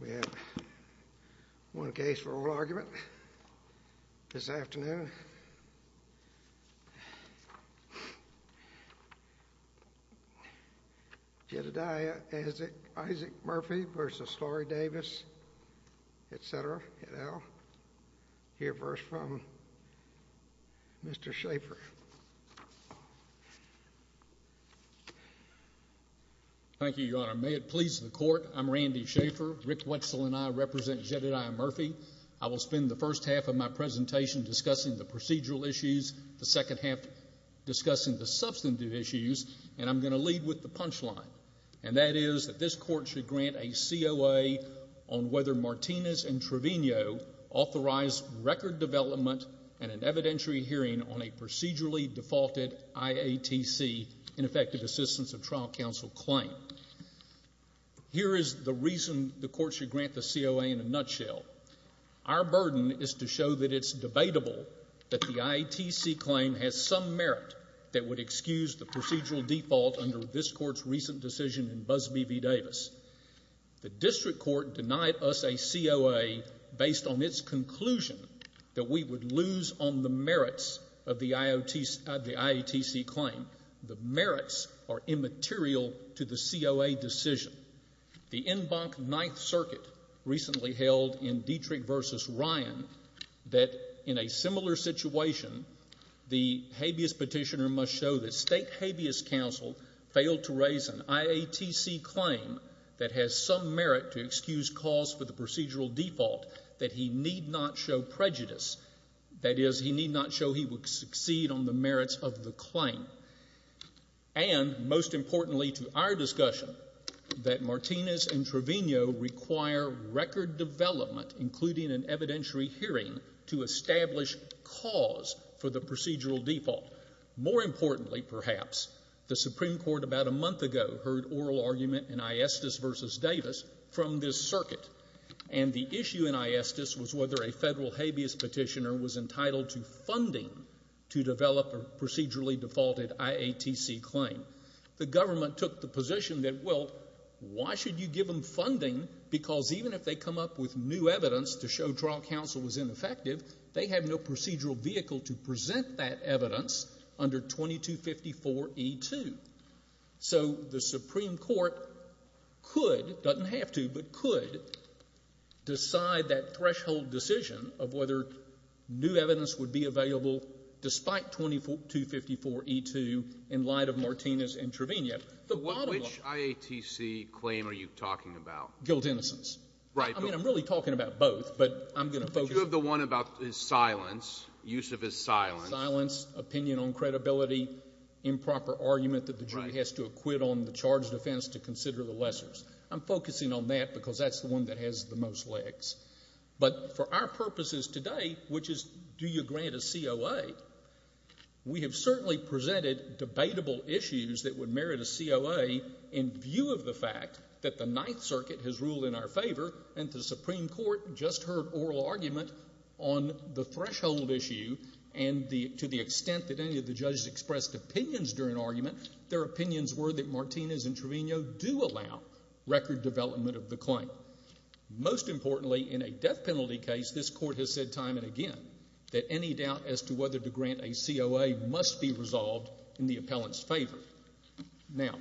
We have one case for oral argument this afternoon. Jedidiah Isaac Murphy v. Lorie Davis, etc., et al., hear a verse from Mr. Schaffer. Thank you, Your Honor. May it please the Court, I'm Randy Schaffer. Rick Wetzel and I represent Jedidiah Murphy. I will spend the first half of my presentation discussing the procedural issues, the second half discussing the substantive issues, and I'm going to lead with the punchline. And that is that this Court should grant a COA on whether Martinez and Trevino authorized record development and an evidentiary hearing on a procedurally defaulted IATC, Ineffective Assistance of Trial Counsel, claim. Here is the reason the Court should grant the COA in a nutshell. Our burden is to show that it's debatable that the IATC claim has some merit that would excuse the procedural default under this Court's recent decision in Busby v. Davis. The district court denied us a COA based on its conclusion that we would lose on the merits of the IATC claim. The merits are immaterial to the COA decision. The NBAC Ninth Circuit recently held in Dietrich v. Ryan that in a similar situation, the habeas that has some merit to excuse cause for the procedural default that he need not show prejudice. That is, he need not show he would succeed on the merits of the claim. And most importantly to our discussion, that Martinez and Trevino require record development, including an evidentiary hearing, to establish cause for the procedural default. More importantly, perhaps, the Supreme Court about a month ago heard oral argument in Iestis v. Davis from this circuit. And the issue in Iestis was whether a federal habeas petitioner was entitled to funding to develop a procedurally defaulted IATC claim. The government took the position that, well, why should you give them funding because even if they come up with new evidence to show trial counsel was ineffective, they have no evidence under 2254E2. So the Supreme Court could, doesn't have to, but could decide that threshold decision of whether new evidence would be available despite 2254E2 in light of Martinez and Trevino. The bottom line — But which IATC claim are you talking about? Guilt innocence. Right. I mean, I'm really talking about both. But I'm going to focus — But you have the one about his silence, use of his silence. Silence, opinion on credibility, improper argument that the jury has to acquit on the charge of offense to consider the lessors. I'm focusing on that because that's the one that has the most legs. But for our purposes today, which is do you grant a COA, we have certainly presented debatable issues that would merit a COA in view of the fact that the Ninth Circuit has ruled in our any of the judges expressed opinions during argument, their opinions were that Martinez and Trevino do allow record development of the claim. Most importantly, in a death penalty case, this Court has said time and again that any doubt as to whether to grant a COA must be resolved in the appellant's favor. Now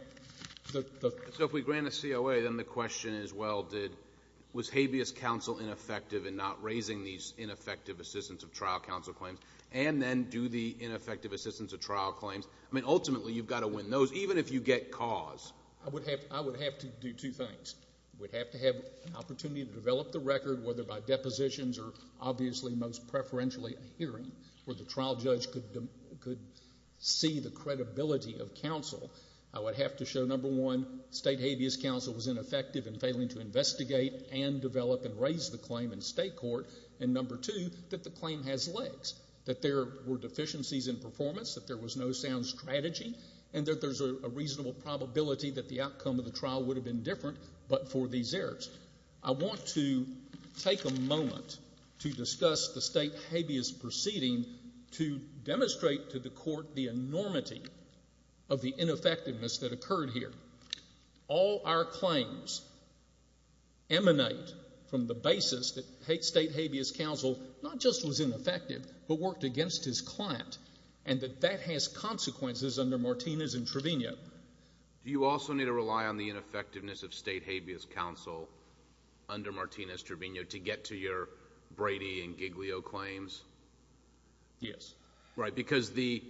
— So if we grant a COA, then the question is, well, did — was habeas counsel ineffective in not raising these ineffective assistance of trial counsel claims? And then do the ineffective assistance of trial claims — I mean, ultimately, you've got to win those, even if you get cause. I would have to do two things. We'd have to have an opportunity to develop the record, whether by depositions or obviously most preferentially a hearing where the trial judge could see the credibility of counsel. I would have to show, number one, state habeas counsel was ineffective in failing to investigate and develop and raise the claim in state court. And number two, that the claim has legs, that there were deficiencies in performance, that there was no sound strategy, and that there's a reasonable probability that the outcome of the trial would have been different but for these errors. I want to take a moment to discuss the state habeas proceeding to demonstrate to the Court the enormity of the ineffectiveness that occurred here. All our claims emanate from the basis that state habeas counsel not just was ineffective but worked against his client, and that that has consequences under Martinez and Trevino. Do you also need to rely on the ineffectiveness of state habeas counsel under Martinez-Trevino to get to your Brady and Giglio claims? Yes. Right. Because the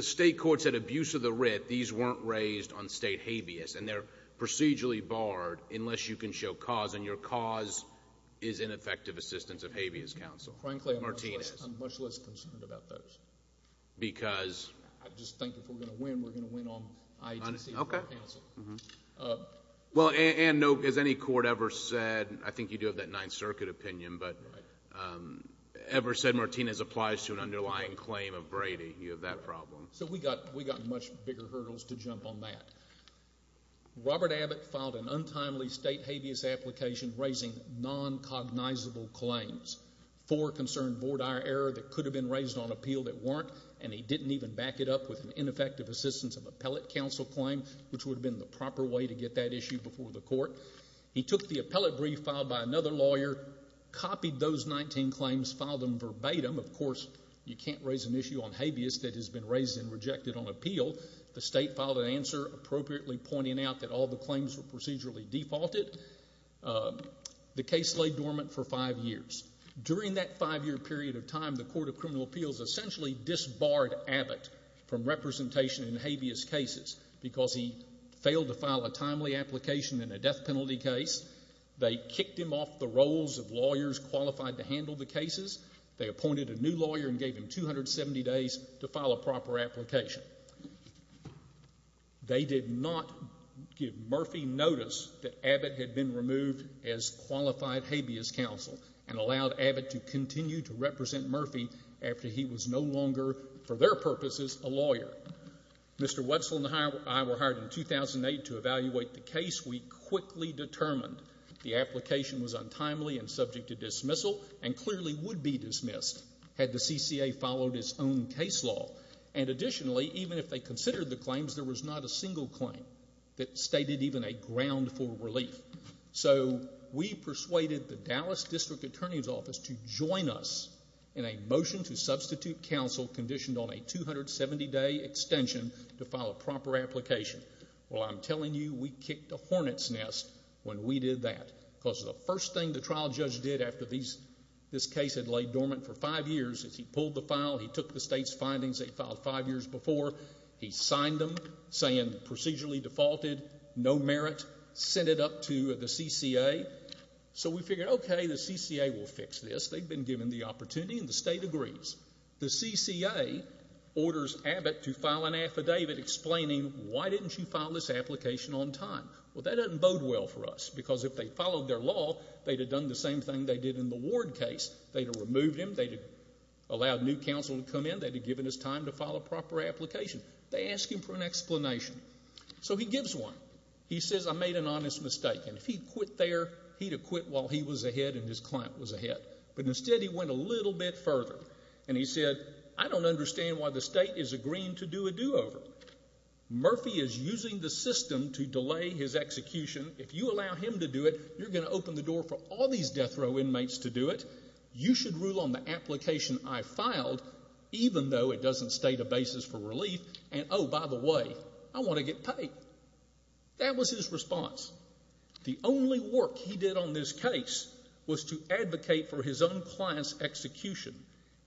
state courts had abuse of the writ. These weren't raised on state habeas, and they're procedurally barred unless you can show cause, and your cause is ineffective assistance of habeas counsel, Martinez. Frankly, I'm much less concerned about those. Because? I just think if we're going to win, we're going to win on ITC counsel. Okay. Well, and no, has any court ever said, I think you do have that Ninth Circuit opinion, but ever said Martinez applies to an underlying claim of Brady? You have that problem. So, we got much bigger hurdles to jump on that. Robert Abbott filed an untimely state habeas application raising non-cognizable claims. Four concerned board IRR that could have been raised on appeal that weren't, and he didn't even back it up with an ineffective assistance of appellate counsel claim, which would have been the proper way to get that issue before the Court. He took the appellate brief filed by another lawyer, copied those 19 claims, filed them verbatim. Of course, you can't raise an issue on habeas that has been raised and rejected on appeal. The state filed an answer appropriately pointing out that all the claims were procedurally defaulted. The case lay dormant for five years. During that five-year period of time, the Court of Criminal Appeals essentially disbarred Abbott from representation in habeas cases because he failed to file a timely application in a death penalty case. They kicked him off the roles of lawyers qualified to handle the cases. They appointed a new lawyer and gave him 270 days to file a proper application. They did not give Murphy notice that Abbott had been removed as qualified habeas counsel and allowed Abbott to continue to represent Murphy after he was no longer, for their purposes, a lawyer. Mr. Wetzel and I were hired in 2008 to evaluate the case. We quickly determined the application was untimely and subject to dismissal and clearly would be dismissed had the CCA followed its own case law. And additionally, even if they considered the claims, there was not a single claim that stated even a ground for relief. So we persuaded the Dallas District Attorney's Office to join us in a motion to substitute counsel conditioned on a 270-day extension to file a proper application. Well, I'm telling you, we kicked a hornet's nest when we did that because the first thing the trial judge did after this case had laid dormant for five years is he pulled the file, he took the state's findings they'd filed five years before, he signed them saying procedurally defaulted, no merit, sent it up to the CCA. So we figured, okay, the CCA will fix this. They've been given the opportunity and the state agrees. The CCA orders Abbott to file an affidavit explaining, why didn't you file this application on time? Well, that doesn't bode well for us because if they followed their law, they'd have done the same thing they did in the Ward case. They'd have removed him, they'd have allowed new counsel to come in, they'd have given his time to file a proper application. They ask him for an explanation. So he gives one. He says, I made an honest mistake. And if he'd quit there, he'd have quit while he was ahead and his client was ahead. But instead, he went a little bit further and he said, I don't understand why the state is agreeing to do a do-over. Murphy is using the system to delay his execution. If you allow him to do it, you're going to open the door for all these death row inmates to do it. You should rule on the application I filed even though it doesn't state a basis for relief and oh, by the way, I want to get paid. That was his response. The only work he did on this case was to advocate for his own client's execution.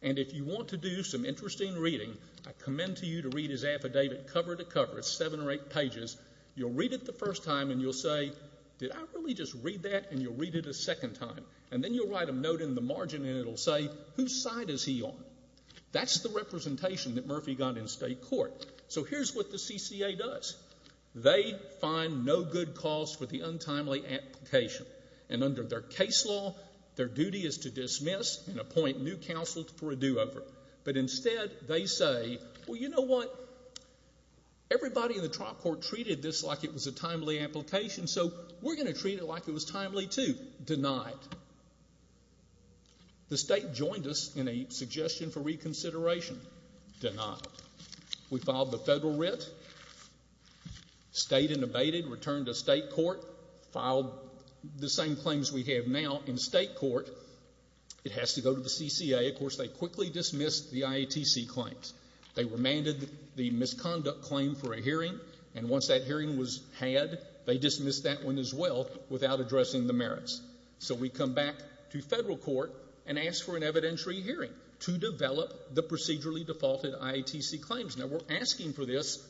And if you want to do some interesting reading, I commend to you to read his affidavit cover to cover. It's seven or eight pages. You'll read it the first time and you'll say, did I really just read that? And you'll read it a second time. And then you'll write a note in the margin and it'll say, whose side is he on? That's the representation that Murphy got in state court. So here's what the CCA does. They find no good cause for the untimely application. And under their case law, their duty is to dismiss and appoint new counsel for a do-over. But instead, they say, well, you know what, everybody in the trial court treated this like it was a timely application, so we're going to treat it like it was timely too. Denied. The state joined us in a suggestion for reconsideration. Denied. We filed the federal writ, stayed and abated, returned to state court, filed the same claims we have now in state court. It has to go to the CCA. Of course, they quickly dismissed the IATC claims. They remanded the misconduct claim for a hearing, and once that hearing was had, they dismissed that one as well without addressing the merits. So we come back to federal court and ask for an evidentiary hearing to develop the procedurally defaulted IATC claims. Now, we're asking for this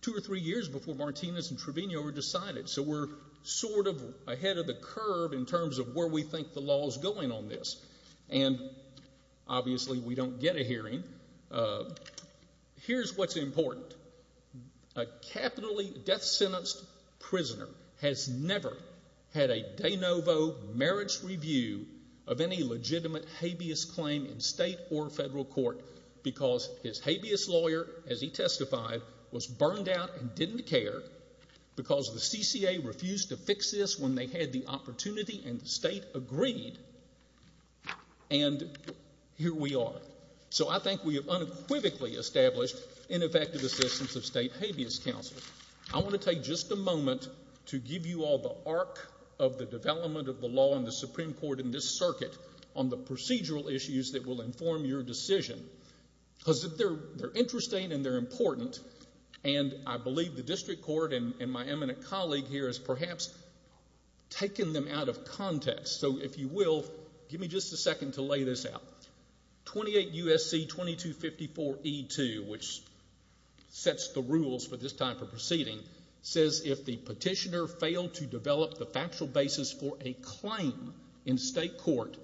two or three years before Martinez and Trevino are decided. So we're sort of ahead of the curve in terms of where we think the law is going on this. And obviously, we don't get a hearing. Here's what's important. A capitally death-sentenced prisoner has never had a de novo merits review of any legitimate habeas claim in state or federal court because his habeas lawyer, as he testified, was burned out and didn't care because the CCA refused to fix this when they had the opportunity and the state agreed. And here we are. So I think we have unequivocally established ineffective assistance of state habeas counsel. I want to take just a moment to give you all the arc of the development of the law in the procedural issues that will inform your decision because they're interesting and they're important. And I believe the district court and my eminent colleague here has perhaps taken them out of context. So if you will, give me just a second to lay this out. 28 U.S.C. 2254E2, which sets the rules for this type of proceeding, says if the petitioner failed to develop the factual basis for a claim in state court,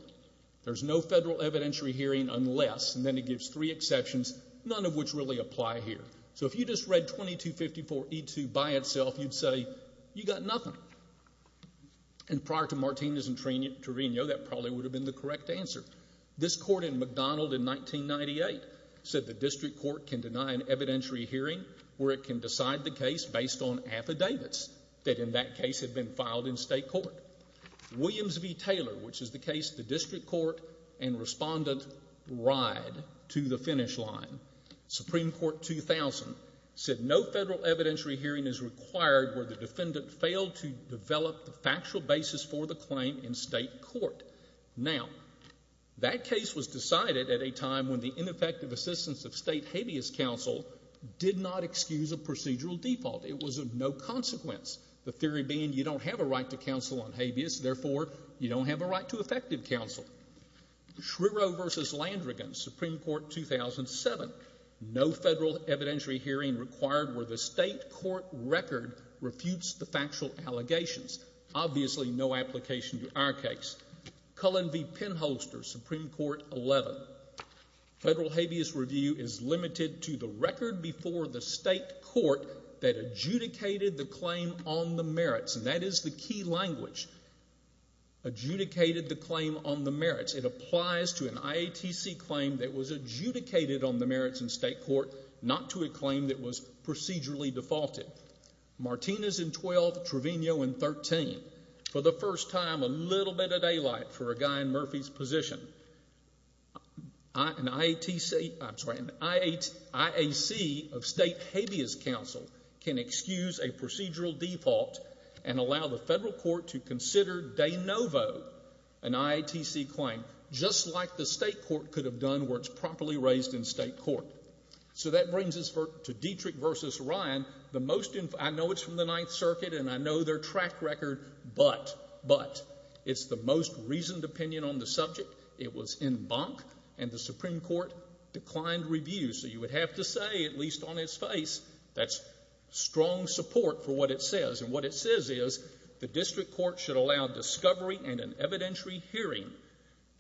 there's no federal evidentiary hearing unless, and then it gives three exceptions, none of which really apply here. So if you just read 2254E2 by itself, you'd say, you got nothing. And prior to Martinez and Torino, that probably would have been the correct answer. This court in McDonald in 1998 said the district court can deny an evidentiary hearing where it can decide the case based on affidavits that in that case had been filed in state court. Williams v. Taylor, which is the case the district court and respondent ride to the finish line, Supreme Court 2000, said no federal evidentiary hearing is required where the defendant failed to develop the factual basis for the claim in state court. Now, that case was decided at a time when the ineffective assistance of state habeas counsel did not excuse a procedural default. It was of no consequence, the theory being you don't have a right to counsel on habeas, therefore, you don't have a right to effective counsel. Schriero v. Landrigan, Supreme Court 2007, no federal evidentiary hearing required where the state court record refutes the factual allegations. Obviously, no application to our case. Cullen v. Penholster, Supreme Court 11, federal habeas review is limited to the record before the state court that adjudicated the claim on the merits, and that is the key language, adjudicated the claim on the merits. It applies to an IATC claim that was adjudicated on the merits in state court, not to a claim that was procedurally defaulted. Martinez in 12, Trevino in 13, for the first time, a little bit of daylight for a guy in Murphy's position. An IATC, I'm sorry, an IAC of state habeas counsel can excuse a procedural default and allow the federal court to consider de novo an IATC claim, just like the state court could have done where it's properly raised in state court. So that brings us to Dietrich v. Ryan, the most, I know it's from the Ninth Circuit and I know their track record, but, but, it's the most reasoned opinion on the subject. It was in bunk, and the Supreme Court declined review, so you would have to say, at least on its face, that's strong support for what it says, and what it says is the district court should allow discovery and an evidentiary hearing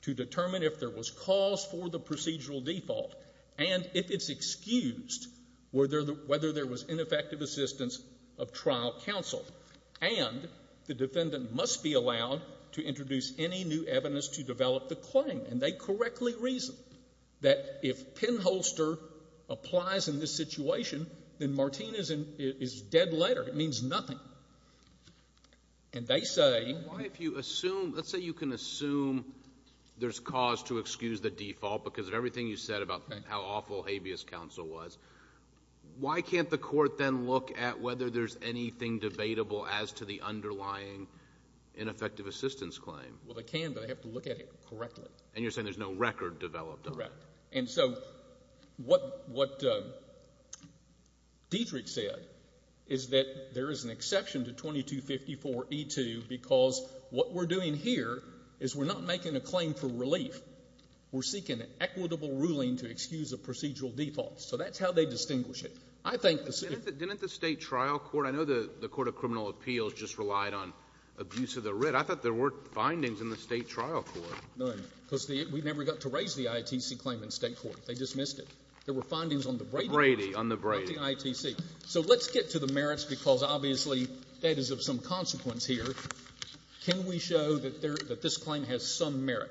to determine if there was cause for the procedural default, and if it's excused, were there the – whether there was ineffective assistance of trial counsel. And the defendant must be allowed to introduce any new evidence to develop the claim. And they correctly reasoned that if pinholster applies in this situation, then Martinez is in – is dead letter. It means nothing. And they say – But if you assume – let's say you can assume there's cause to excuse the default because of everything you said about how awful habeas counsel was, why can't the court then look at whether there's anything debatable as to the underlying ineffective assistance claim? Well, they can, but they have to look at it correctly. And you're saying there's no record developed on it. Correct. And so what – what Dietrich said is that there is an exception to 2254e2 because what we're doing here is we're not making a claim for relief. We're seeking an equitable ruling to excuse a procedural default. So that's how they distinguish it. I think the – Didn't the state trial court – I know the court of criminal appeals just relied on abuse of the writ. I thought there were findings in the state trial court. None. Because the – we never got to raise the IATC claim in state court. They dismissed it. There were findings on the Brady. The Brady, on the Brady. Not the IATC. So let's get to the merits because, obviously, that is of some consequence here. Can we show that there – that this claim has some merit?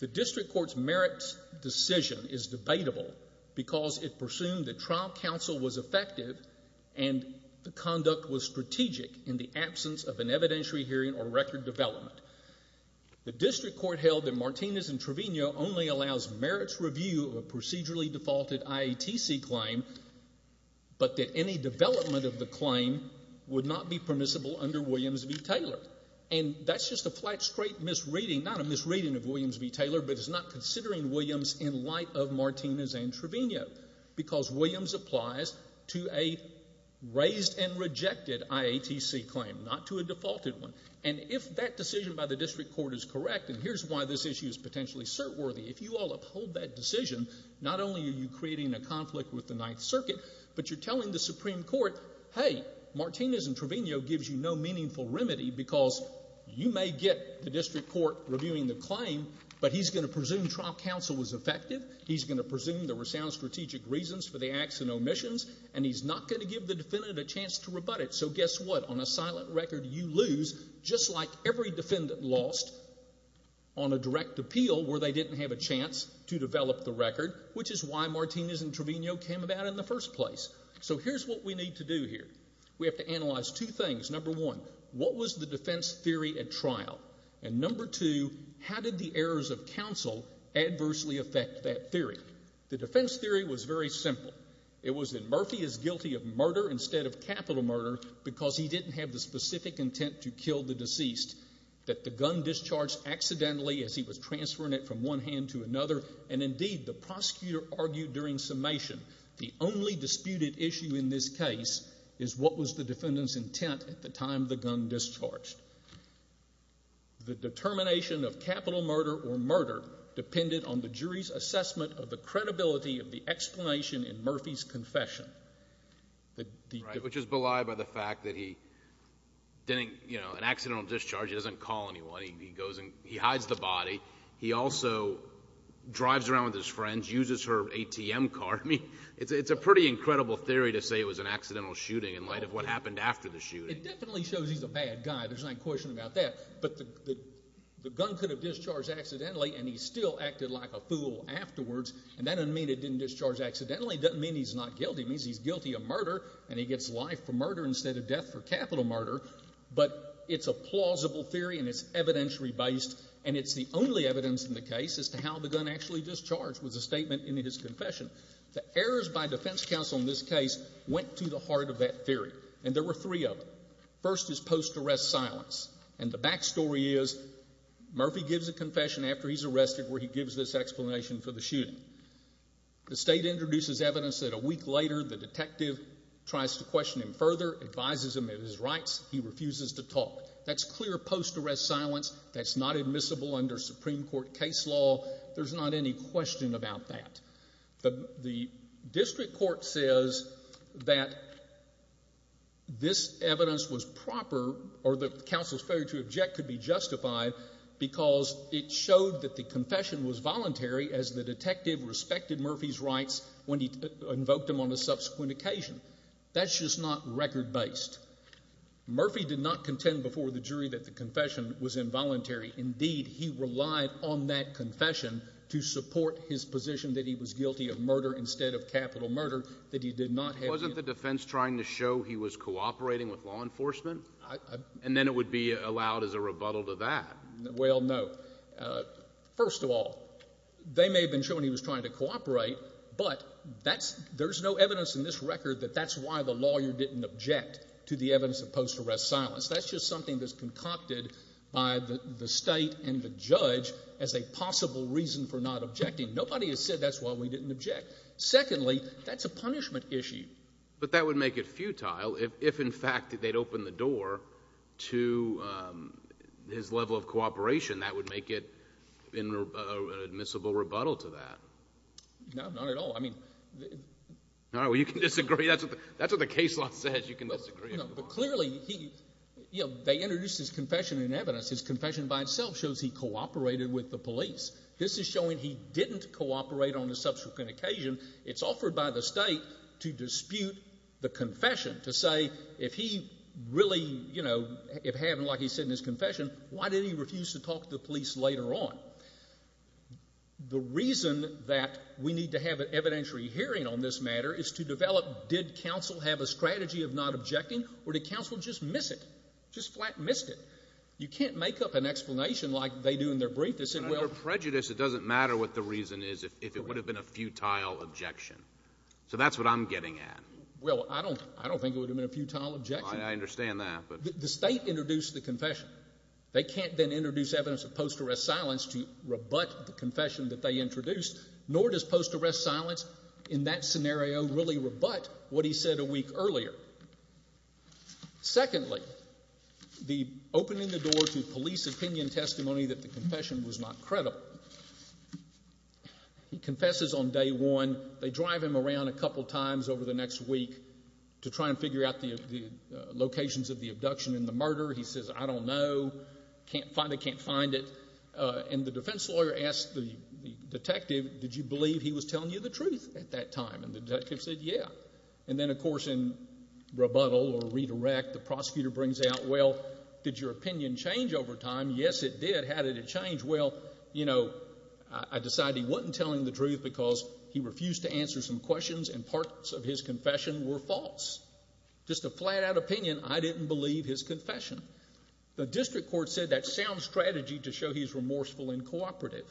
The district court's merits decision is debatable because it presumed that trial counsel was effective and the conduct was strategic in the absence of an evidentiary hearing or record development. The district court held that Martinez and Trevino only allows merits review of a procedurally defaulted IATC claim but that any development of the claim would not be permissible under Williams v. Taylor. And that's just a flat straight misreading – not a misreading of Williams v. Taylor but it's not considering Williams in light of Martinez and Trevino because Williams applies to a raised and rejected IATC claim, not to a defaulted one. And if that decision by the district court is correct, and here's why this issue is potentially cert-worthy, if you all uphold that decision, not only are you creating a conflict with the Ninth Circuit, but you're telling the Supreme Court, hey, Martinez and Trevino gives you no meaningful remedy because you may get the district court reviewing the claim, but he's going to presume trial counsel was effective, he's going to presume there were sound strategic reasons for the acts and omissions, and he's not going to give the defendant a chance to rebut it. So guess what? On a silent record, you lose, just like every defendant lost on a direct appeal where they didn't have a chance to develop the record, which is why Martinez and Trevino came about in the first place. So here's what we need to do here. We have to analyze two things. Number one, what was the defense theory at trial? And number two, how did the errors of counsel adversely affect that theory? The defense theory was very simple. It was that Murphy is guilty of murder instead of capital murder because he didn't have the specific intent to kill the deceased, that the gun discharged accidentally as he was transferring it from one hand to another, and indeed, the prosecutor argued during summation, the only disputed issue in this case is what was the defendant's intent at the time the gun discharged. The determination of capital murder or murder depended on the jury's assessment of the Murphy's confession. Which is belied by the fact that he didn't, you know, an accidental discharge, he doesn't call anyone. He goes and he hides the body. He also drives around with his friends, uses her ATM card. It's a pretty incredible theory to say it was an accidental shooting in light of what happened after the shooting. It definitely shows he's a bad guy, there's no question about that, but the gun could have discharged accidentally and he still acted like a fool afterwards, and that doesn't mean it didn't discharge accidentally, it doesn't mean he's not guilty, it means he's guilty of murder and he gets life for murder instead of death for capital murder, but it's a plausible theory and it's evidentiary based, and it's the only evidence in the case as to how the gun actually discharged was a statement in his confession. The errors by defense counsel in this case went to the heart of that theory, and there were three of them. First is post-arrest silence, and the back story is Murphy gives a confession after he's shot. The state introduces evidence that a week later the detective tries to question him further, advises him of his rights, he refuses to talk. That's clear post-arrest silence, that's not admissible under Supreme Court case law, there's not any question about that. The district court says that this evidence was proper, or the counsel's failure to object could be justified because it showed that the confession was voluntary as the detective respected Murphy's rights when he invoked him on a subsequent occasion. That's just not record-based. Murphy did not contend before the jury that the confession was involuntary, indeed he relied on that confession to support his position that he was guilty of murder instead of capital murder, that he did not have the... Wasn't the defense trying to show he was cooperating with law enforcement? And then it would be allowed as a rebuttal to that. Well, no. First of all, they may have been showing he was trying to cooperate, but there's no evidence in this record that that's why the lawyer didn't object to the evidence of post-arrest silence. That's just something that's concocted by the state and the judge as a possible reason for not objecting. Nobody has said that's why we didn't object. Secondly, that's a punishment issue. But that would make it futile if, in fact, they'd opened the door to his level of cooperation. That would make it an admissible rebuttal to that. No, not at all. I mean... All right, well, you can disagree. That's what the case law says. You can disagree. No, but clearly, you know, they introduced his confession in evidence. His confession by itself shows he cooperated with the police. This is showing he didn't cooperate on a subsequent occasion. It's offered by the state to dispute the confession, to say, if he really, you know, if he hadn't, like he said in his confession, why did he refuse to talk to the police later on? The reason that we need to have an evidentiary hearing on this matter is to develop, did counsel have a strategy of not objecting, or did counsel just miss it, just flat missed it? You can't make up an explanation like they do in their brief that said, well... So that's what I'm getting at. Well, I don't think it would have been a futile objection. I understand that, but... The state introduced the confession. They can't then introduce evidence of post-arrest silence to rebut the confession that they introduced, nor does post-arrest silence in that scenario really rebut what he said a week earlier. Secondly, the opening the door to police opinion testimony that the confession was not credible, where he confesses on day one, they drive him around a couple times over the next week to try and figure out the locations of the abduction and the murder. He says, I don't know, can't find it, can't find it. And the defense lawyer asked the detective, did you believe he was telling you the truth at that time? And the detective said, yeah. And then, of course, in rebuttal or redirect, the prosecutor brings out, well, did your opinion change over time? Yes, it did. How did it change? Well, you know, I decided he wasn't telling the truth because he refused to answer some questions and parts of his confession were false. Just a flat-out opinion, I didn't believe his confession. The district court said that sounds strategy to show he's remorseful and cooperative.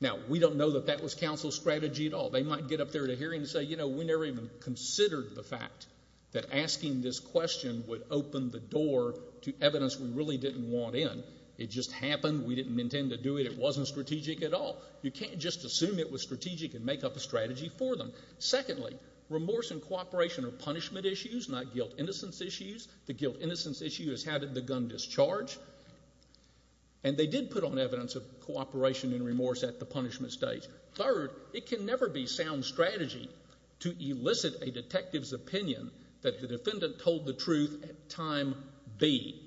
Now, we don't know that that was counsel's strategy at all. They might get up there at a hearing and say, you know, we never even considered the fact that asking this question would open the door to evidence we really didn't want in. It just happened. We didn't intend to do it. It wasn't strategic at all. You can't just assume it was strategic and make up a strategy for them. Secondly, remorse and cooperation are punishment issues, not guilt-innocence issues. The guilt-innocence issue is how did the gun discharge? And they did put on evidence of cooperation and remorse at the punishment stage. Third, it can never be sound strategy to elicit a detective's opinion that the defendant told the truth at time B.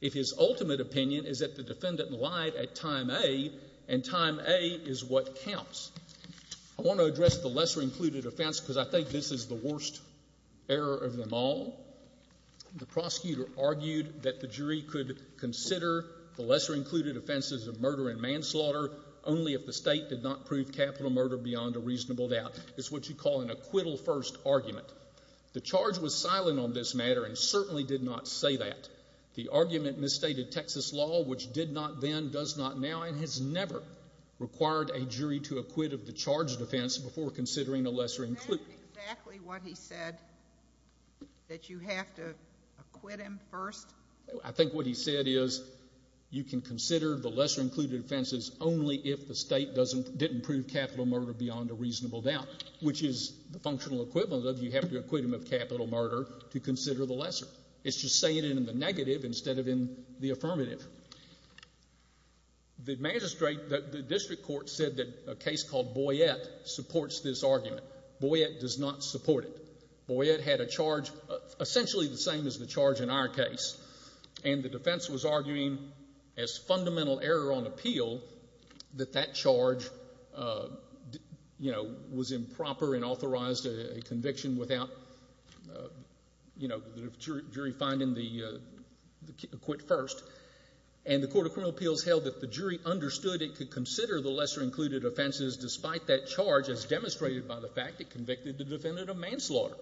If his ultimate opinion is that the defendant lied at time A, and time A is what counts. I want to address the lesser-included offense because I think this is the worst error of them all. The prosecutor argued that the jury could consider the lesser-included offenses of murder and manslaughter only if the state did not prove capital murder beyond a reasonable doubt. It's what you call an acquittal-first argument. The charge was silent on this matter and certainly did not say that. The argument misstated Texas law, which did not then, does not now, and has never required a jury to acquit of the charge defense before considering the lesser-included. Isn't that exactly what he said, that you have to acquit him first? I think what he said is you can consider the lesser-included offenses only if the state didn't prove capital murder beyond a reasonable doubt, which is the functional equivalent of you have to acquit him of capital murder to consider the lesser. It's just saying it in the negative instead of in the affirmative. The magistrate, the district court said that a case called Boyette supports this argument. Boyette does not support it. Boyette had a charge essentially the same as the charge in our case, and the defense was arguing as fundamental error on appeal that that charge, you know, was improper and the jury finding the acquit first, and the Court of Criminal Appeals held that the jury understood it could consider the lesser-included offenses despite that charge as demonstrated by the fact it convicted the defendant of manslaughter.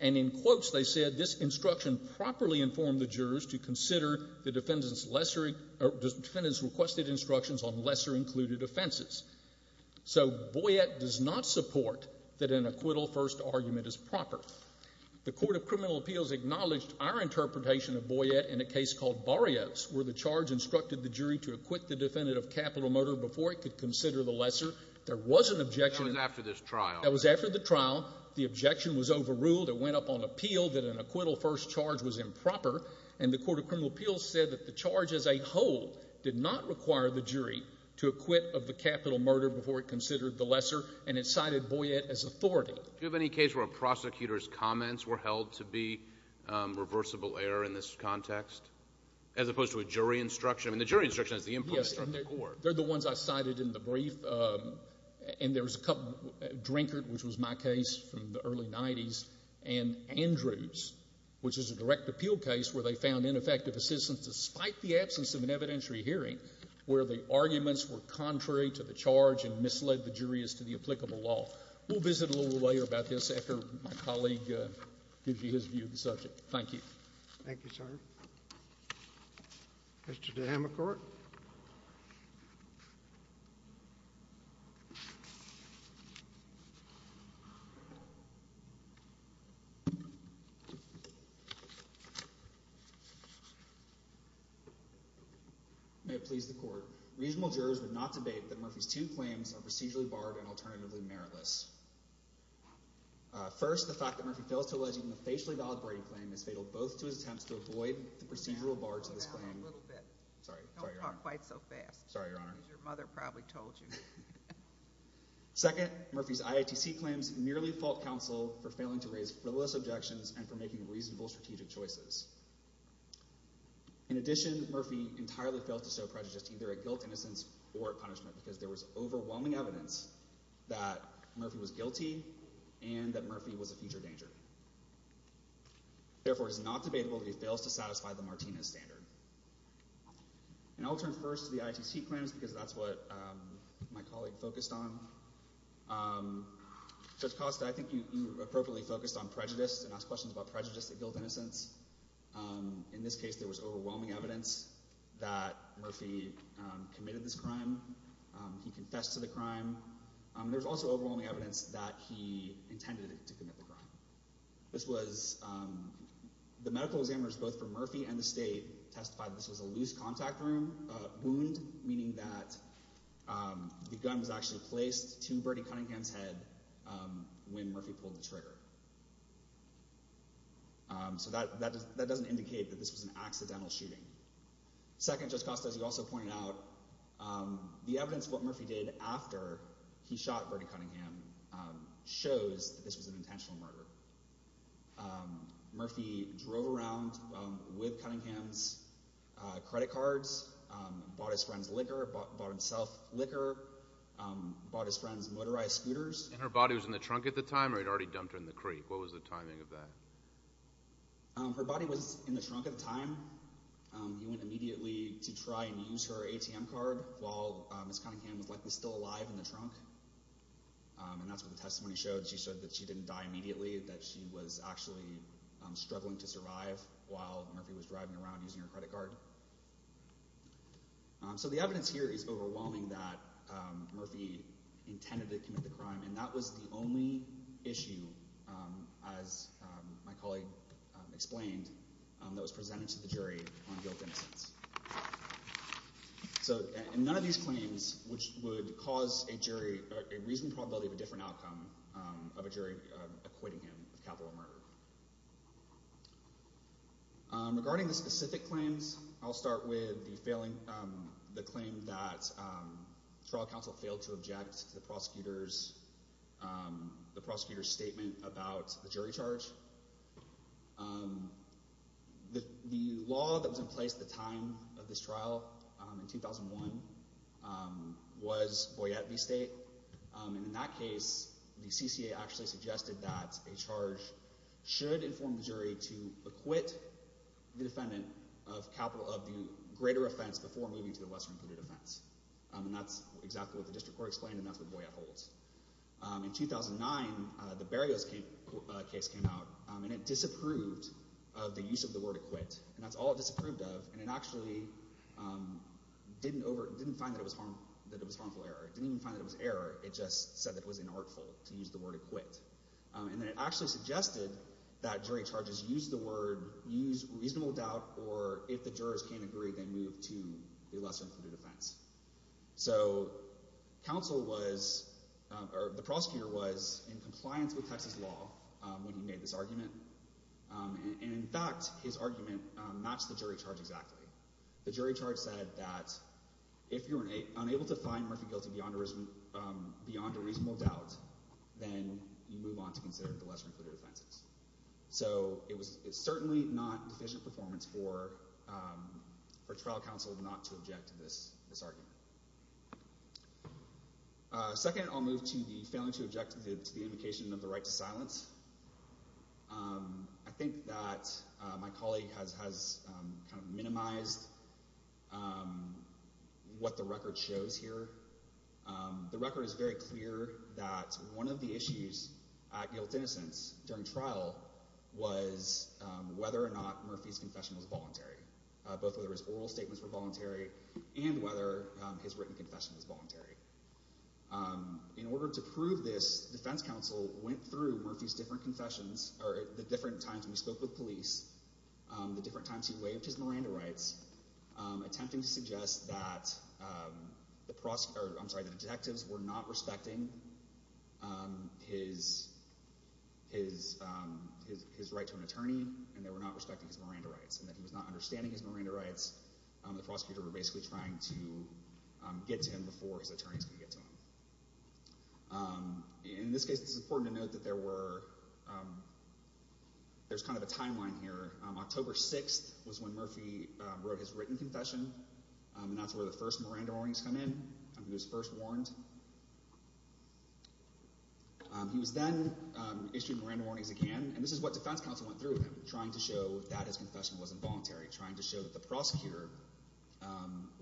And in quotes they said, this instruction properly informed the jurors to consider the defendant's requested instructions on lesser-included offenses. So Boyette does not support that an acquittal-first argument is proper. The Court of Criminal Appeals acknowledged our interpretation of Boyette in a case called Barrios, where the charge instructed the jury to acquit the defendant of capital murder before it could consider the lesser. There was an objection. That was after this trial. That was after the trial. The objection was overruled. It went up on appeal that an acquittal-first charge was improper. And the Court of Criminal Appeals said that the charge as a whole did not require the jury to acquit of the capital murder before it considered the lesser, and it cited Boyette as authority. Do you have any case where a prosecutor's comments were held to be reversible error in this context, as opposed to a jury instruction? I mean, the jury instruction is the implementer of the court. Yes. They're the ones I cited in the brief. And there was a couple, Drinkard, which was my case from the early 90s, and Andrews, which is a direct appeal case where they found ineffective assistance despite the absence of an evidentiary hearing where the arguments were contrary to the charge and misled the jurors to the applicable law. We'll visit a little later about this after my colleague gives you his view of the subject. Thank you. Thank you, sir. Mr. Dahamacourt. May it please the Court. Regional jurors would not debate that Murphy's two claims are procedurally barred and alternatively meritless. First, the fact that Murphy fails to allege even a facially validated claim is fatal both to his attempts to avoid the procedural bar to this claim. Sorry, Your Honor. Don't talk quite so fast. Sorry, Your Honor. Because your mother probably told you. Second, Murphy's IITC claims merely fault counsel for failing to raise frivolous objections and for making reasonable strategic choices. In addition, Murphy entirely failed to sow prejudice either at guilt, innocence, or punishment because there was overwhelming evidence that Murphy was guilty and that Murphy was a future danger. Therefore, it is not debatable that he fails to satisfy the Martinez standard. And I will turn first to the IITC claims because that's what my colleague focused on. Judge Costa, I think you appropriately focused on prejudice and asked questions about prejudice at guilt, innocence. In this case, there was overwhelming evidence that Murphy committed this crime. He confessed to the crime. There's also overwhelming evidence that he intended to commit the crime. This was the medical examiners, both for Murphy and the state, testified this was a loose contact wound, meaning that the gun was actually placed to Bernie Cunningham's head when Murphy pulled the trigger. So that doesn't indicate that this was an accidental shooting. Second, Judge Costa, as you also pointed out, the evidence of what Murphy did after he shot Bernie Cunningham shows that this was an intentional murder. Murphy drove around with Cunningham's credit cards, bought his friend's liquor, bought himself liquor, bought his friend's motorized scooters. And her body was in the trunk at the time or he'd already dumped her in the creek? What was the timing of that? Her body was in the trunk at the time. He went immediately to try and use her ATM card while Ms. Cunningham was likely still alive in the trunk. And that's what the testimony showed. She said that she didn't die immediately, that she was actually struggling to survive while Murphy was driving around using her credit card. So the evidence here is overwhelming that Murphy intended to commit the crime, and that was the only issue, as my colleague explained, that was presented to the jury on guilt and innocence. And none of these claims, which would cause a jury a reasonable probability of a different outcome of a jury acquitting him of capital murder. Regarding the specific claims, I'll start with the claim that the trial counsel failed to object to the prosecutor's statement about the jury charge. The law that was in place at the time of this trial in 2001 was Boyette v. State, and in that case, the CCA actually suggested that a charge should inform the jury to acquit the defendant of capital of the greater offense before moving to the lesser-included offense. And that's exactly what the district court explained, and that's what Boyette holds. In 2009, the Berrios case came out, and it disapproved of the use of the word acquit. And that's all it disapproved of, and it actually didn't find that it was harmful error. It didn't even find that it was error. It just said that it was inartful to use the word acquit. And then it actually suggested that jury charges use the word, use reasonable doubt, or if the jurors can't agree, they move to the lesser-included offense. So counsel was, or the prosecutor was, in compliance with Texas law when he made this argument. And in fact, his argument matched the jury charge exactly. The jury charge said that if you're unable to find Murphy guilty beyond a reasonable doubt, then you move on to consider the lesser-included offenses. So it's certainly not deficient performance for trial counsel not to object to this argument. Second, I'll move to the failing to object to the indication of the right to silence. I think that my colleague has kind of minimized what the record shows here. The record is very clear that one of the issues at Guilt Innocence during trial was whether or not Murphy's confession was voluntary, both whether his oral statements were voluntary In order to prove this, defense counsel went through Murphy's different confessions, or the different times when he spoke with police, the different times he waived his Miranda rights, attempting to suggest that the detectives were not respecting his right to an attorney and they were not respecting his Miranda rights, and that he was not understanding his Miranda rights when he got to them. In this case, it's important to note that there's kind of a timeline here. October 6th was when Murphy wrote his written confession, and that's where the first Miranda warnings come in, when he was first warned. He was then issued Miranda warnings again, and this is what defense counsel went through with him, trying to show that his confession was involuntary, trying to show that the prosecutor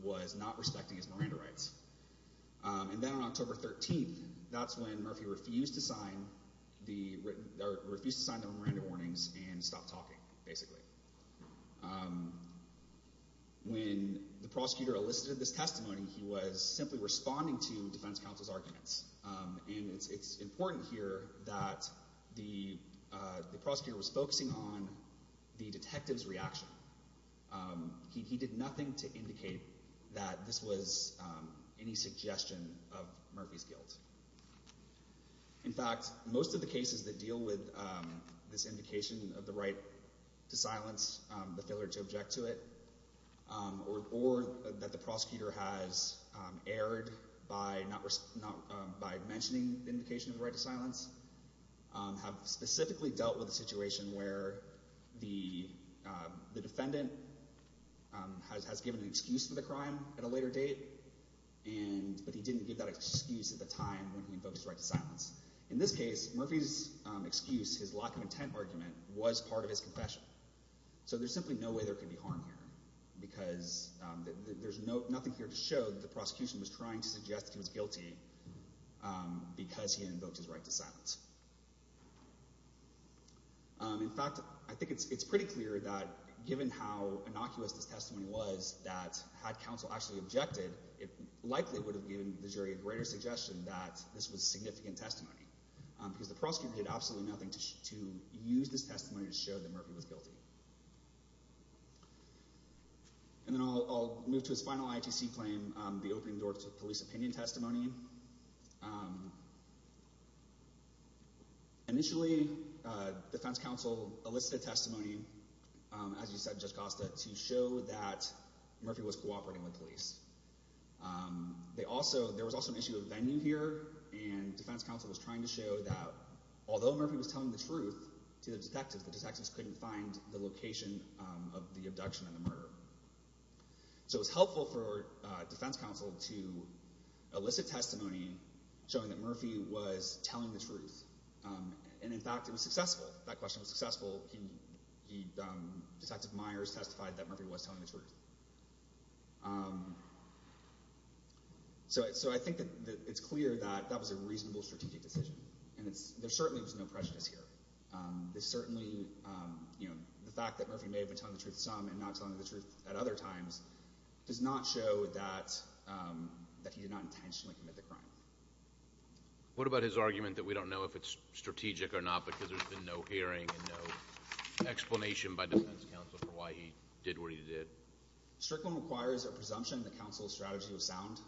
was not respecting his Miranda rights. And then on October 13th, that's when Murphy refused to sign the Miranda warnings and stopped talking, basically. When the prosecutor elicited this testimony, he was simply responding to defense counsel's arguments, and it's important here that the prosecutor was focusing on the detective's reaction. He did nothing to indicate that this was any suggestion of Murphy's guilt. In fact, most of the cases that deal with this indication of the right to silence, the failure to object to it, or that the prosecutor has erred by mentioning the indication of the right to silence. The defendant has given an excuse for the crime at a later date, but he didn't give that excuse at the time when he invoked his right to silence. In this case, Murphy's excuse, his lack of intent argument, was part of his confession. So there's simply no way there could be harm here, because there's nothing here to show that the prosecution was trying to suggest he was guilty because he invoked his right to silence. In fact, I think it's pretty clear that given how innocuous this testimony was, that had counsel actually objected, it likely would have given the jury a greater suggestion that this was significant testimony, because the prosecutor did absolutely nothing to use this testimony to show that Murphy was guilty. And then I'll move to his final ITC claim, the opening door to police opinion testimony. Initially, defense counsel elicited testimony, as you said, Judge Costa, to show that Murphy was cooperating with police. There was also an issue of venue here, and defense counsel was trying to show that although Murphy was telling the truth to the detectives, the detectives couldn't find the location of the abduction and the murder. So it was helpful for defense counsel to elicit testimony showing that Murphy was telling the truth. And in fact, it was successful, that question was successful. Detective Myers testified that Murphy was telling the truth. So I think that it's clear that that was a reasonable strategic decision, and there certainly was no prejudice here. There's certainly, you know, the fact that Murphy may have been telling the truth some and not telling the truth at other times does not show that he did not intentionally commit the crime. What about his argument that we don't know if it's strategic or not because there's been no hearing and no explanation by defense counsel for why he did what he did? Strickland requires a presumption that counsel's strategy was sound,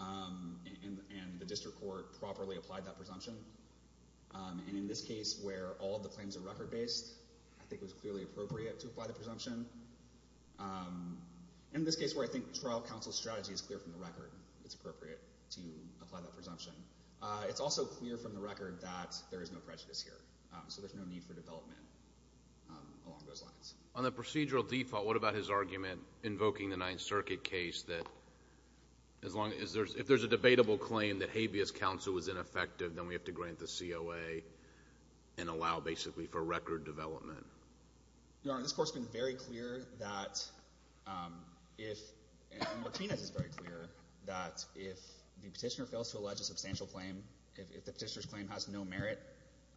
and the district court properly applied that presumption. And in this case where all the claims are record-based, I think it was clearly appropriate to apply the presumption. In this case where I think trial counsel's strategy is clear from the record, it's appropriate to apply that presumption. It's also clear from the record that there is no prejudice here, so there's no need for development along those lines. On the procedural default, what about his argument invoking the Ninth Circuit case that if there's a debatable claim that habeas counsel was ineffective, then we have to grant the COA and allow basically for record development? Your Honor, this Court's been very clear that if, and Martinez is very clear, that if the petitioner fails to allege a substantial claim, if the petitioner's claim has no merit,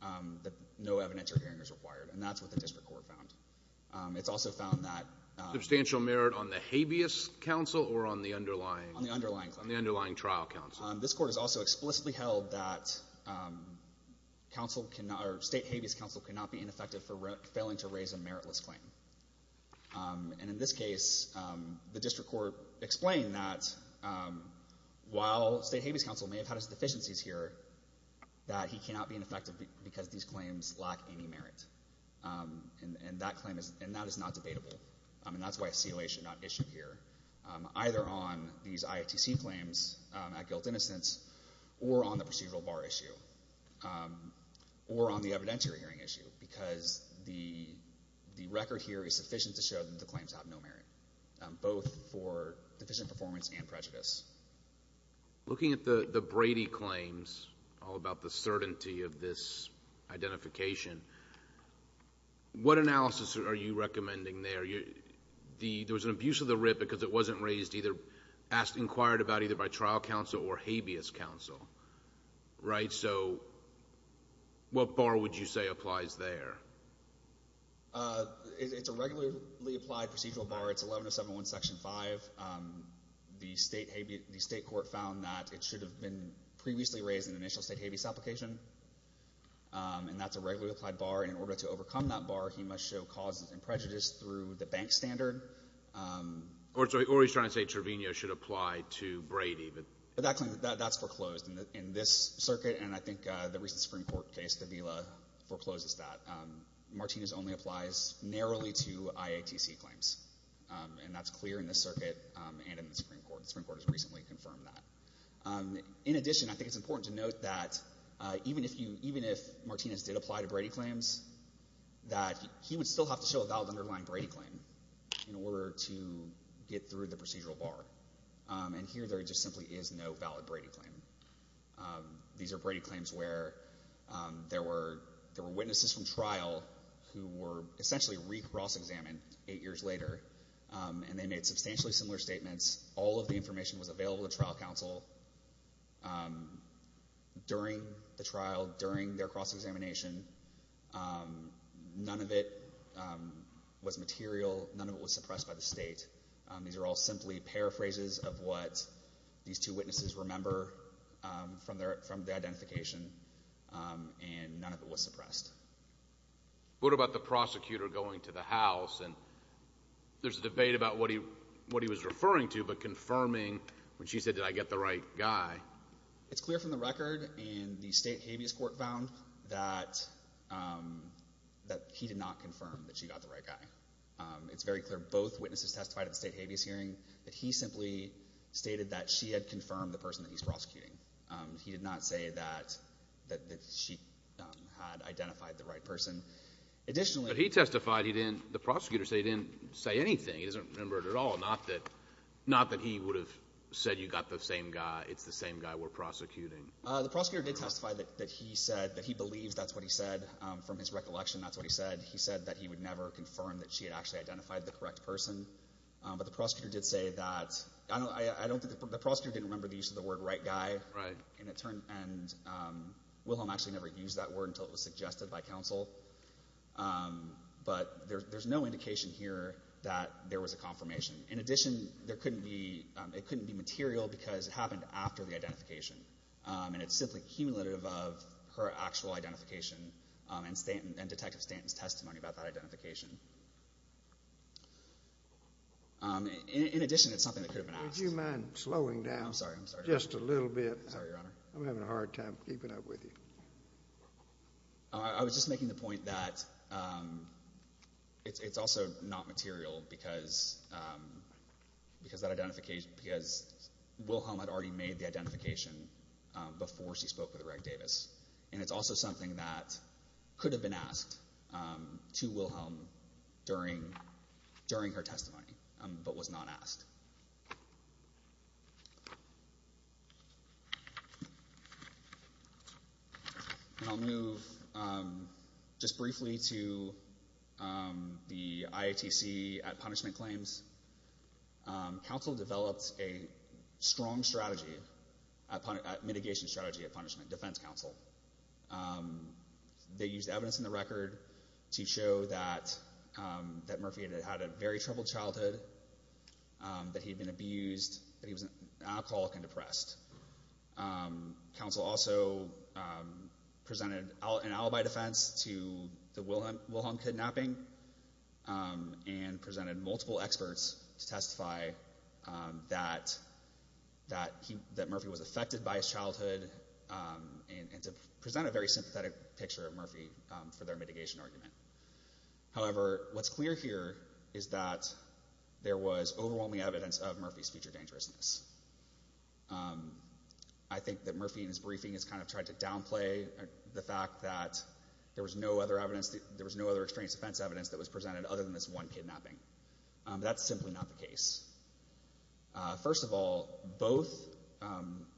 that no evidence or hearing is required, and that's what the district court found. It's also found that Substantial merit on the habeas counsel or on the underlying? On the underlying. On the underlying trial counsel. This Court has also explicitly held that state habeas counsel cannot be ineffective for failing to raise a meritless claim. And in this case, the district court explained that while state habeas counsel may have had its deficiencies here, that he cannot be ineffective because these claims lack any merit. And that claim is, and that is not debatable. And that's why COA should not issue here, either on these IATC claims at guilt-innocence or on the procedural bar issue or on the evidentiary hearing issue because the record here is sufficient to show that the claims have no merit, both for deficient performance and prejudice. Looking at the Brady claims, all about the certainty of this identification, what analysis are you recommending there? There was an abuse of the writ because it wasn't raised, either inquired about either by trial counsel or habeas counsel, right? So what bar would you say applies there? It's a regularly applied procedural bar. It's 11071 Section 5. The state court found that it should have been previously raised in the initial state habeas application, and that's a regularly applied bar. And in order to overcome that bar, he must show cause and prejudice through the bank standard. Or he's trying to say Trevino should apply to Brady. But that claim, that's foreclosed. In this circuit, and I think the recent Supreme Court case, the VILA forecloses that, Martinez only applies narrowly to IATC claims, and that's clear in this circuit and in the Supreme Court. The Supreme Court has recently confirmed that. In addition, I think it's important to note that even if Martinez did apply to Brady claims, that he would still have to show a valid underlying Brady claim in order to get through the procedural bar. And here there just simply is no valid Brady claim. These are Brady claims where there were witnesses from trial who were essentially re-cross-examined eight years later, and they made substantially similar statements. All of the information was available to trial counsel during the trial, during their cross-examination. None of it was material, none of it was suppressed by the state. These are all simply paraphrases of what these two witnesses remember from the identification, and none of it was suppressed. What about the prosecutor going to the house, and there's a debate about what he was referring to but confirming when she said, did I get the right guy? It's clear from the record, and the state habeas court found, that he did not confirm that she got the right guy. It's very clear, both witnesses testified at the state habeas hearing, that he simply stated that she had confirmed the person that he's prosecuting. He did not say that she had identified the right person. Additionally... But he testified he didn't, the prosecutor said he didn't say anything, he doesn't remember it at all, not that he would have said you got the same guy, it's the same guy we're prosecuting. The prosecutor did testify that he said, that he believes that's what he said, from his recollection that's what he said. He said that he would never confirm that she had actually identified the correct person. But the prosecutor did say that, I don't think, the prosecutor didn't remember the use of the word right guy, and it turned, and Wilhelm actually never used that word until it was suggested by counsel. But there's no indication here that there was a confirmation. In addition, there couldn't be, it couldn't be material because it happened after the identification, and it's simply cumulative of her actual identification, and Detective Stanton's testimony about that identification. In addition, it's something that could have been asked. Would you mind slowing down just a little bit? Sorry, Your Honor. I'm having a hard time keeping up with you. I was just making the point that it's also not material because Wilhelm had already made the identification before she spoke with Reg Davis, and it's also something that could have been asked to Wilhelm during, during her testimony, but was not asked. And I'll move just briefly to the IATC at punishment claims. Counsel developed a strong strategy, mitigation strategy at punishment, defense counsel. They used evidence in the record to show that, that Murphy had had a very troubled childhood, that he'd been abused, that he was an alcoholic and depressed. Counsel also presented an alibi defense to the Wilhelm kidnapping, and presented multiple experts to testify that, that he, that Murphy was affected by his childhood, and to present a very sympathetic picture of Murphy for their mitigation argument. However, what's clear here is that there was overwhelming evidence of Murphy's future dangerousness. I think that Murphy, in his briefing, has kind of tried to downplay the fact that there was no other evidence, there was no other extraneous defense evidence that was presented other than this one kidnapping. That's simply not the case. First of all, both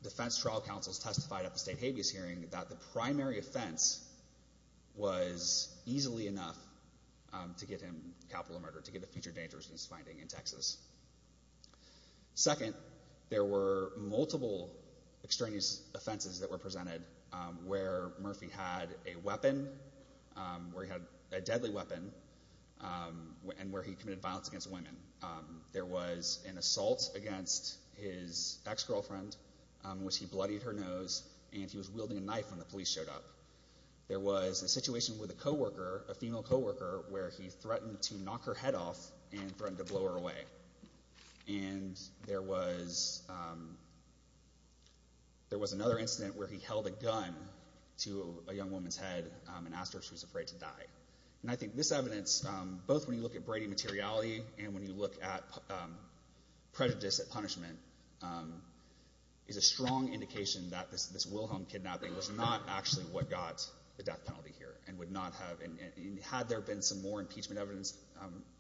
defense trial counsels testified at the state habeas hearing that the primary offense was easily enough to get him capital murder, to get a future dangerousness finding in Texas. Second, there were multiple extraneous offenses that were presented where Murphy had a weapon, where he had a deadly weapon, and where he committed violence against women. There was an assault against his ex-girlfriend, in which he bloodied her nose, and he was wielding a knife when the police showed up. There was a situation with a co-worker, a female co-worker, where he threatened to knock her head off, and threatened to blow her away. And there was another incident where he held a gun to a young woman's head and asked her if she was afraid to die. And I think this evidence, both when you look at Brady materiality, and when you look at prejudice at punishment, is a strong indication that this Wilhelm kidnapping was not actually what got the death penalty here, and would not have, and had there been some more impeachment evidence,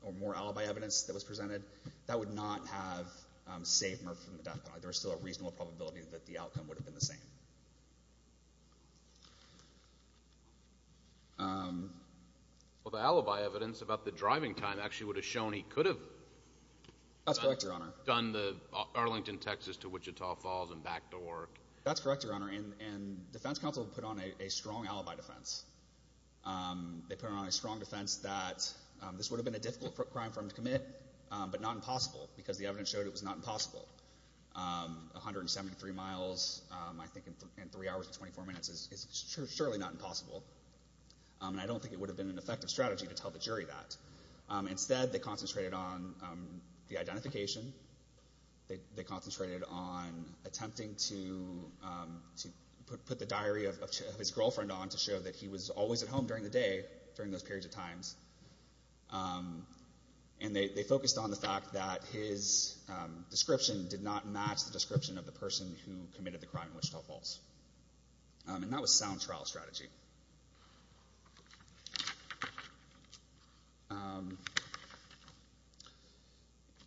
or more alibi evidence that was presented, that would not have saved Murphy from the death penalty. There's still a reasonable probability that the outcome would have been the same. Well, the alibi evidence about the driving time actually would have shown he could have done the Arlington, Texas to Wichita Falls and back to work. That's correct, Your Honor. And defense counsel put on a strong alibi defense. They put on a strong defense that this would have been a difficult crime for him to commit, but not impossible, because the evidence showed it was not impossible. 173 miles, I think, in three hours and 24 minutes is surely not impossible. And I don't think it would have been an effective strategy to tell the jury that. Instead, they concentrated on the identification. They concentrated on attempting to put the diary of his girlfriend on to show that he was always at home during the day, during those periods of times. And they focused on the fact that his description did not match the description of the person who committed the crime in Wichita Falls. And that was a sound trial strategy.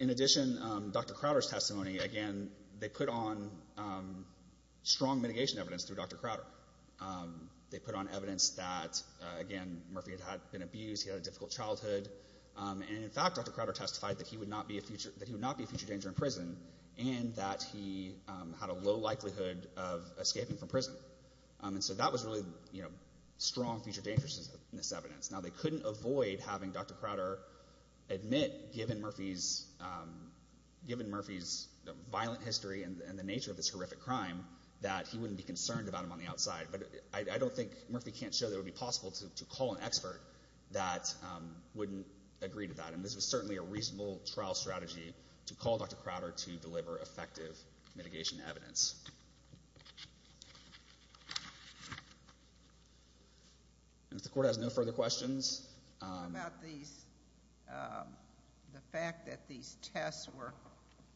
In addition, Dr. Crowder's testimony, again, they put on strong mitigation evidence through Dr. Crowder. They put on evidence that, again, Murphy had been abused. He had a difficult childhood. And, in fact, Dr. Crowder testified that he would not be a future danger in prison and that he had a low likelihood of escaping from prison. And so that was really strong future dangerousness evidence. Now, they couldn't avoid having Dr. Crowder admit, given Murphy's violent history and the nature of this horrific crime, that he wouldn't be concerned about him on the outside. But I don't think Murphy can't show that it would be possible to call an expert that wouldn't agree to that. And this was certainly a reasonable trial strategy to call Dr. Crowder to deliver effective mitigation evidence. If the court has no further questions. About the fact that these tests were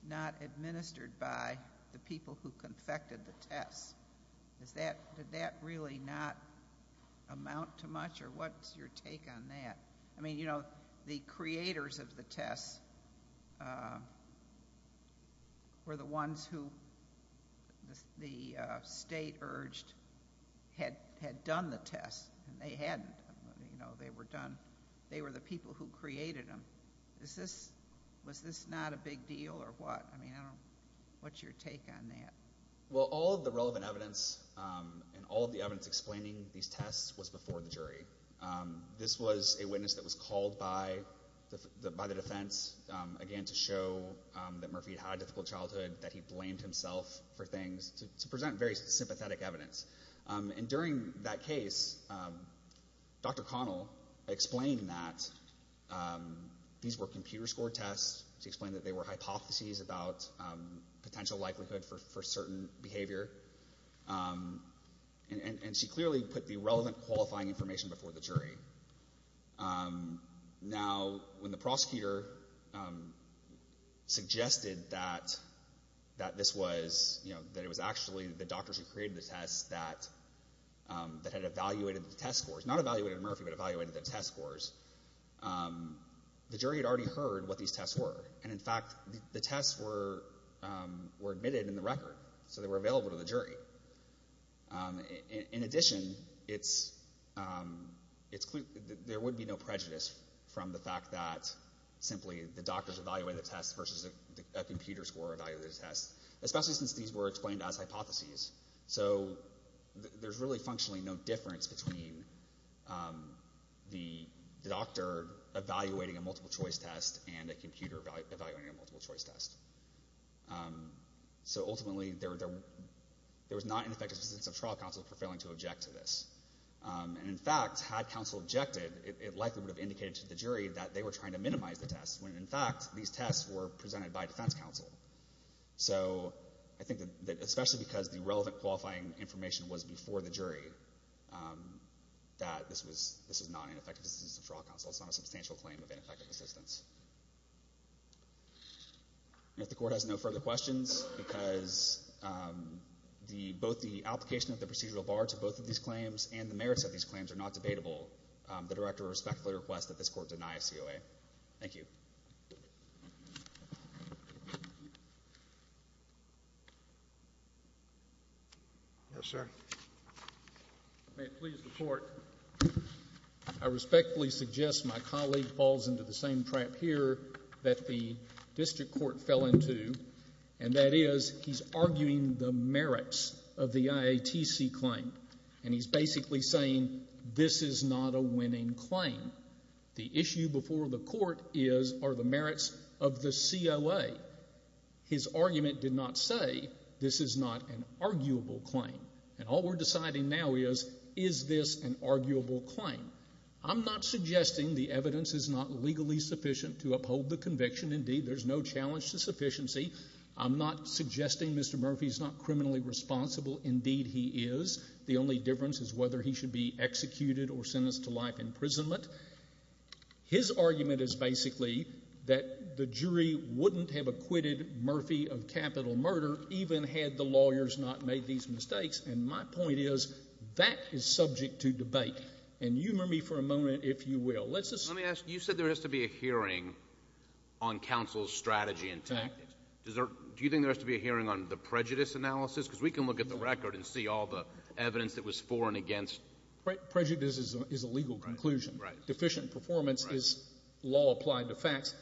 not administered by the people who confected the tests, did that really not amount to much? Or what's your take on that? I mean, you know, the creators of the tests were the ones who the state urged had done the tests. And they hadn't. You know, they were done. They were the people who created them. Was this not a big deal or what? I mean, I don't know. What's your take on that? Well, all of the relevant evidence and all of the evidence explaining these tests was before the jury. This was a witness that was called by the defense, again, to show that Murphy had a difficult childhood, that he blamed himself for things, to present very sympathetic evidence. And during that case, Dr. Connell explained that these were computer-scored tests. She explained that they were hypotheses about potential likelihood for certain behavior. And she clearly put the relevant qualifying information before the jury. Now, when the prosecutor suggested that this was, you know, that it was actually the doctors who created the tests that had evaluated the test scores, not evaluated Murphy, but evaluated the test scores, the jury had already heard what these tests were. And, in fact, the tests were admitted in the record. So they were available to the jury. In addition, there would be no prejudice from the fact that simply the doctors evaluated the tests versus a computer-score evaluated test, especially since these were explained as hypotheses. So there's really functionally no difference between the doctor evaluating a multiple-choice test and a computer evaluating a multiple-choice test. So, ultimately, there was not ineffective assistance of trial counsel for failing to object to this. And, in fact, had counsel objected, it likely would have indicated to the jury that they were trying to minimize the tests, when, in fact, these tests were presented by defense counsel. So I think that especially because the relevant qualifying information was before the jury, that this was not ineffective assistance of trial counsel. It's not a substantial claim of ineffective assistance. And if the Court has no further questions, because both the application of the procedural bar to both of these claims and the merits of these claims are not debatable, the Director respectfully requests that this Court deny COA. Thank you. Yes, sir. May it please the Court. I respectfully suggest my colleague falls into the same trap here that the District Court fell into, and that is he's arguing the merits of the IATC claim. And he's basically saying this is not a winning claim. The issue before the Court is, are the merits of the COA. His argument did not say this is not an arguable claim. And all we're deciding now is, is this an arguable claim? I'm not suggesting the evidence is not legally sufficient to uphold the conviction. Indeed, there's no challenge to sufficiency. I'm not suggesting Mr. Murphy's not criminally responsible. Indeed, he is. The only difference is whether he should be executed or sentenced to life imprisonment. His argument is basically that the jury wouldn't have acquitted Murphy of capital murder even had the lawyers not made these mistakes. And my point is, that is subject to debate. And you remember me for a moment, if you will. Let's assume. Let me ask. You said there has to be a hearing on counsel's strategy and tactics. Do you think there has to be a hearing on the prejudice analysis? Because we can look at the record and see all the evidence that was for and against. Prejudice is a legal conclusion. Deficient performance is law applied to facts.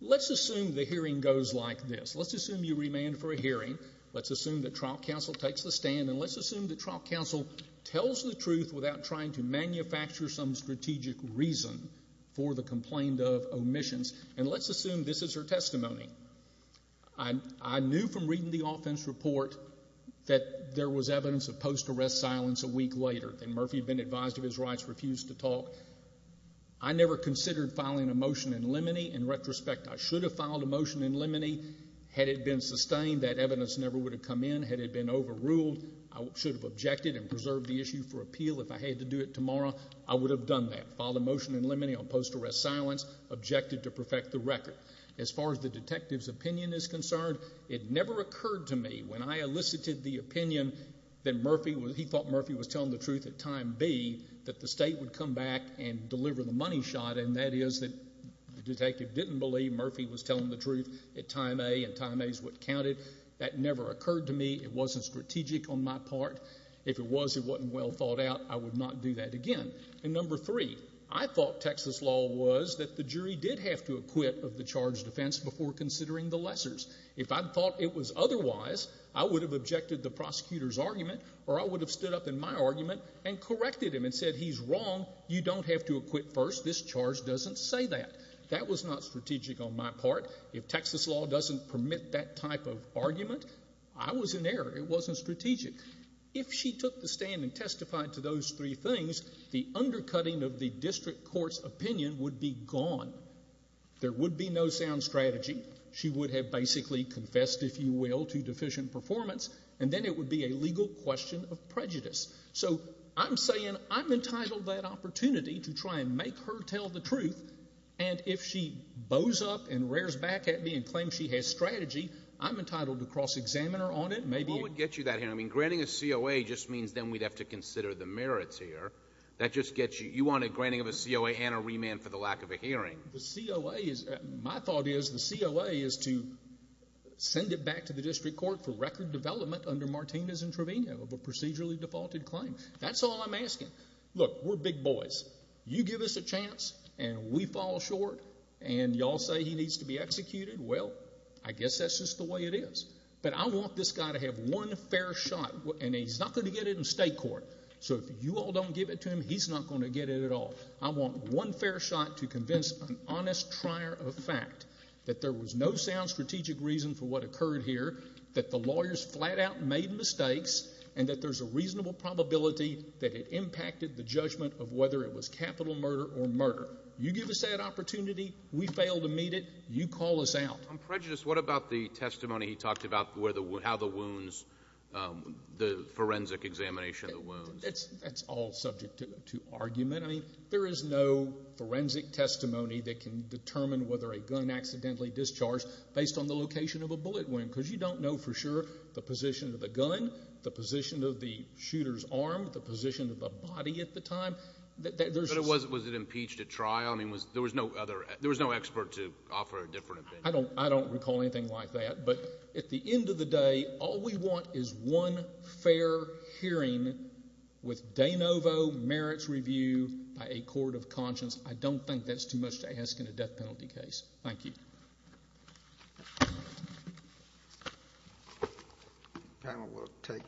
Let's assume the hearing goes like this. Let's assume you remand for a hearing. Let's assume that trial counsel takes the stand. And let's assume that trial counsel tells the truth without trying to manufacture some strategic reason for the complaint of omissions. And let's assume this is her testimony. I knew from reading the offense report that there was evidence of post-arrest silence a week later. And Murphy had been advised of his rights, refused to talk. I never considered filing a motion in limine. In retrospect, I should have filed a motion in limine had it been sustained. That evidence never would have come in had it been overruled. I should have objected and preserved the issue for appeal if I had to do it tomorrow. I would have done that. Filed a motion in limine on post-arrest silence, objected to perfect the record. As far as the detective's opinion is concerned, it never occurred to me when I elicited the opinion that Murphy, he thought Murphy was telling the truth at time B, that the state would come back and deliver the money shot, and that is that the detective didn't believe Murphy was telling the truth at time A, and time A is what counted. That never occurred to me. It wasn't strategic on my part. If it was, it wasn't well thought out. I would not do that again. And number three, I thought Texas law was that the jury did have to acquit of the charged offense before considering the lessors. If I thought it was otherwise, I would have objected the prosecutor's argument or I would have stood up in my argument and corrected him and said, he's wrong, you don't have to acquit first, this charge doesn't say that. That was not strategic on my part. If Texas law doesn't permit that type of argument, I was in error. It wasn't strategic. If she took the stand and testified to those three things, the undercutting of the district court's opinion would be gone. There would be no sound strategy. She would have basically confessed, if you will, to deficient performance, and then it would be a legal question of prejudice. So I'm saying I'm entitled to that opportunity to try and make her tell the truth, and if she bows up and rears back at me and claims she has strategy, I'm entitled to cross-examine her on it. What would get you that hearing? I mean, granting a COA just means then we'd have to consider the merits here. That just gets you. You want a granting of a COA and a remand for the lack of a hearing. My thought is the COA is to send it back to the district court for record development under Martinez and Trevino of a procedurally defaulted claim. That's all I'm asking. Look, we're big boys. You give us a chance and we fall short, and you all say he needs to be executed. Well, I guess that's just the way it is. But I want this guy to have one fair shot, and he's not going to get it in state court. So if you all don't give it to him, he's not going to get it at all. I want one fair shot to convince an honest trier of fact that there was no sound strategic reason for what occurred here, that the lawyers flat out made mistakes, and that there's a reasonable probability that it impacted the judgment of whether it was capital murder or murder. You give us that opportunity. We fail to meet it. You call us out. On prejudice, what about the testimony he talked about how the wounds, the forensic examination of the wounds? That's all subject to argument. I mean, there is no forensic testimony that can determine whether a gun accidentally discharged based on the location of a bullet wound because you don't know for sure the position of the gun, the position of the shooter's arm, the position of the body at the time. But was it impeached at trial? I mean, there was no expert to offer a different opinion. I don't recall anything like that. But at the end of the day, all we want is one fair hearing with de novo merits review by a court of conscience. I don't think that's too much to ask in a death penalty case. Thank you.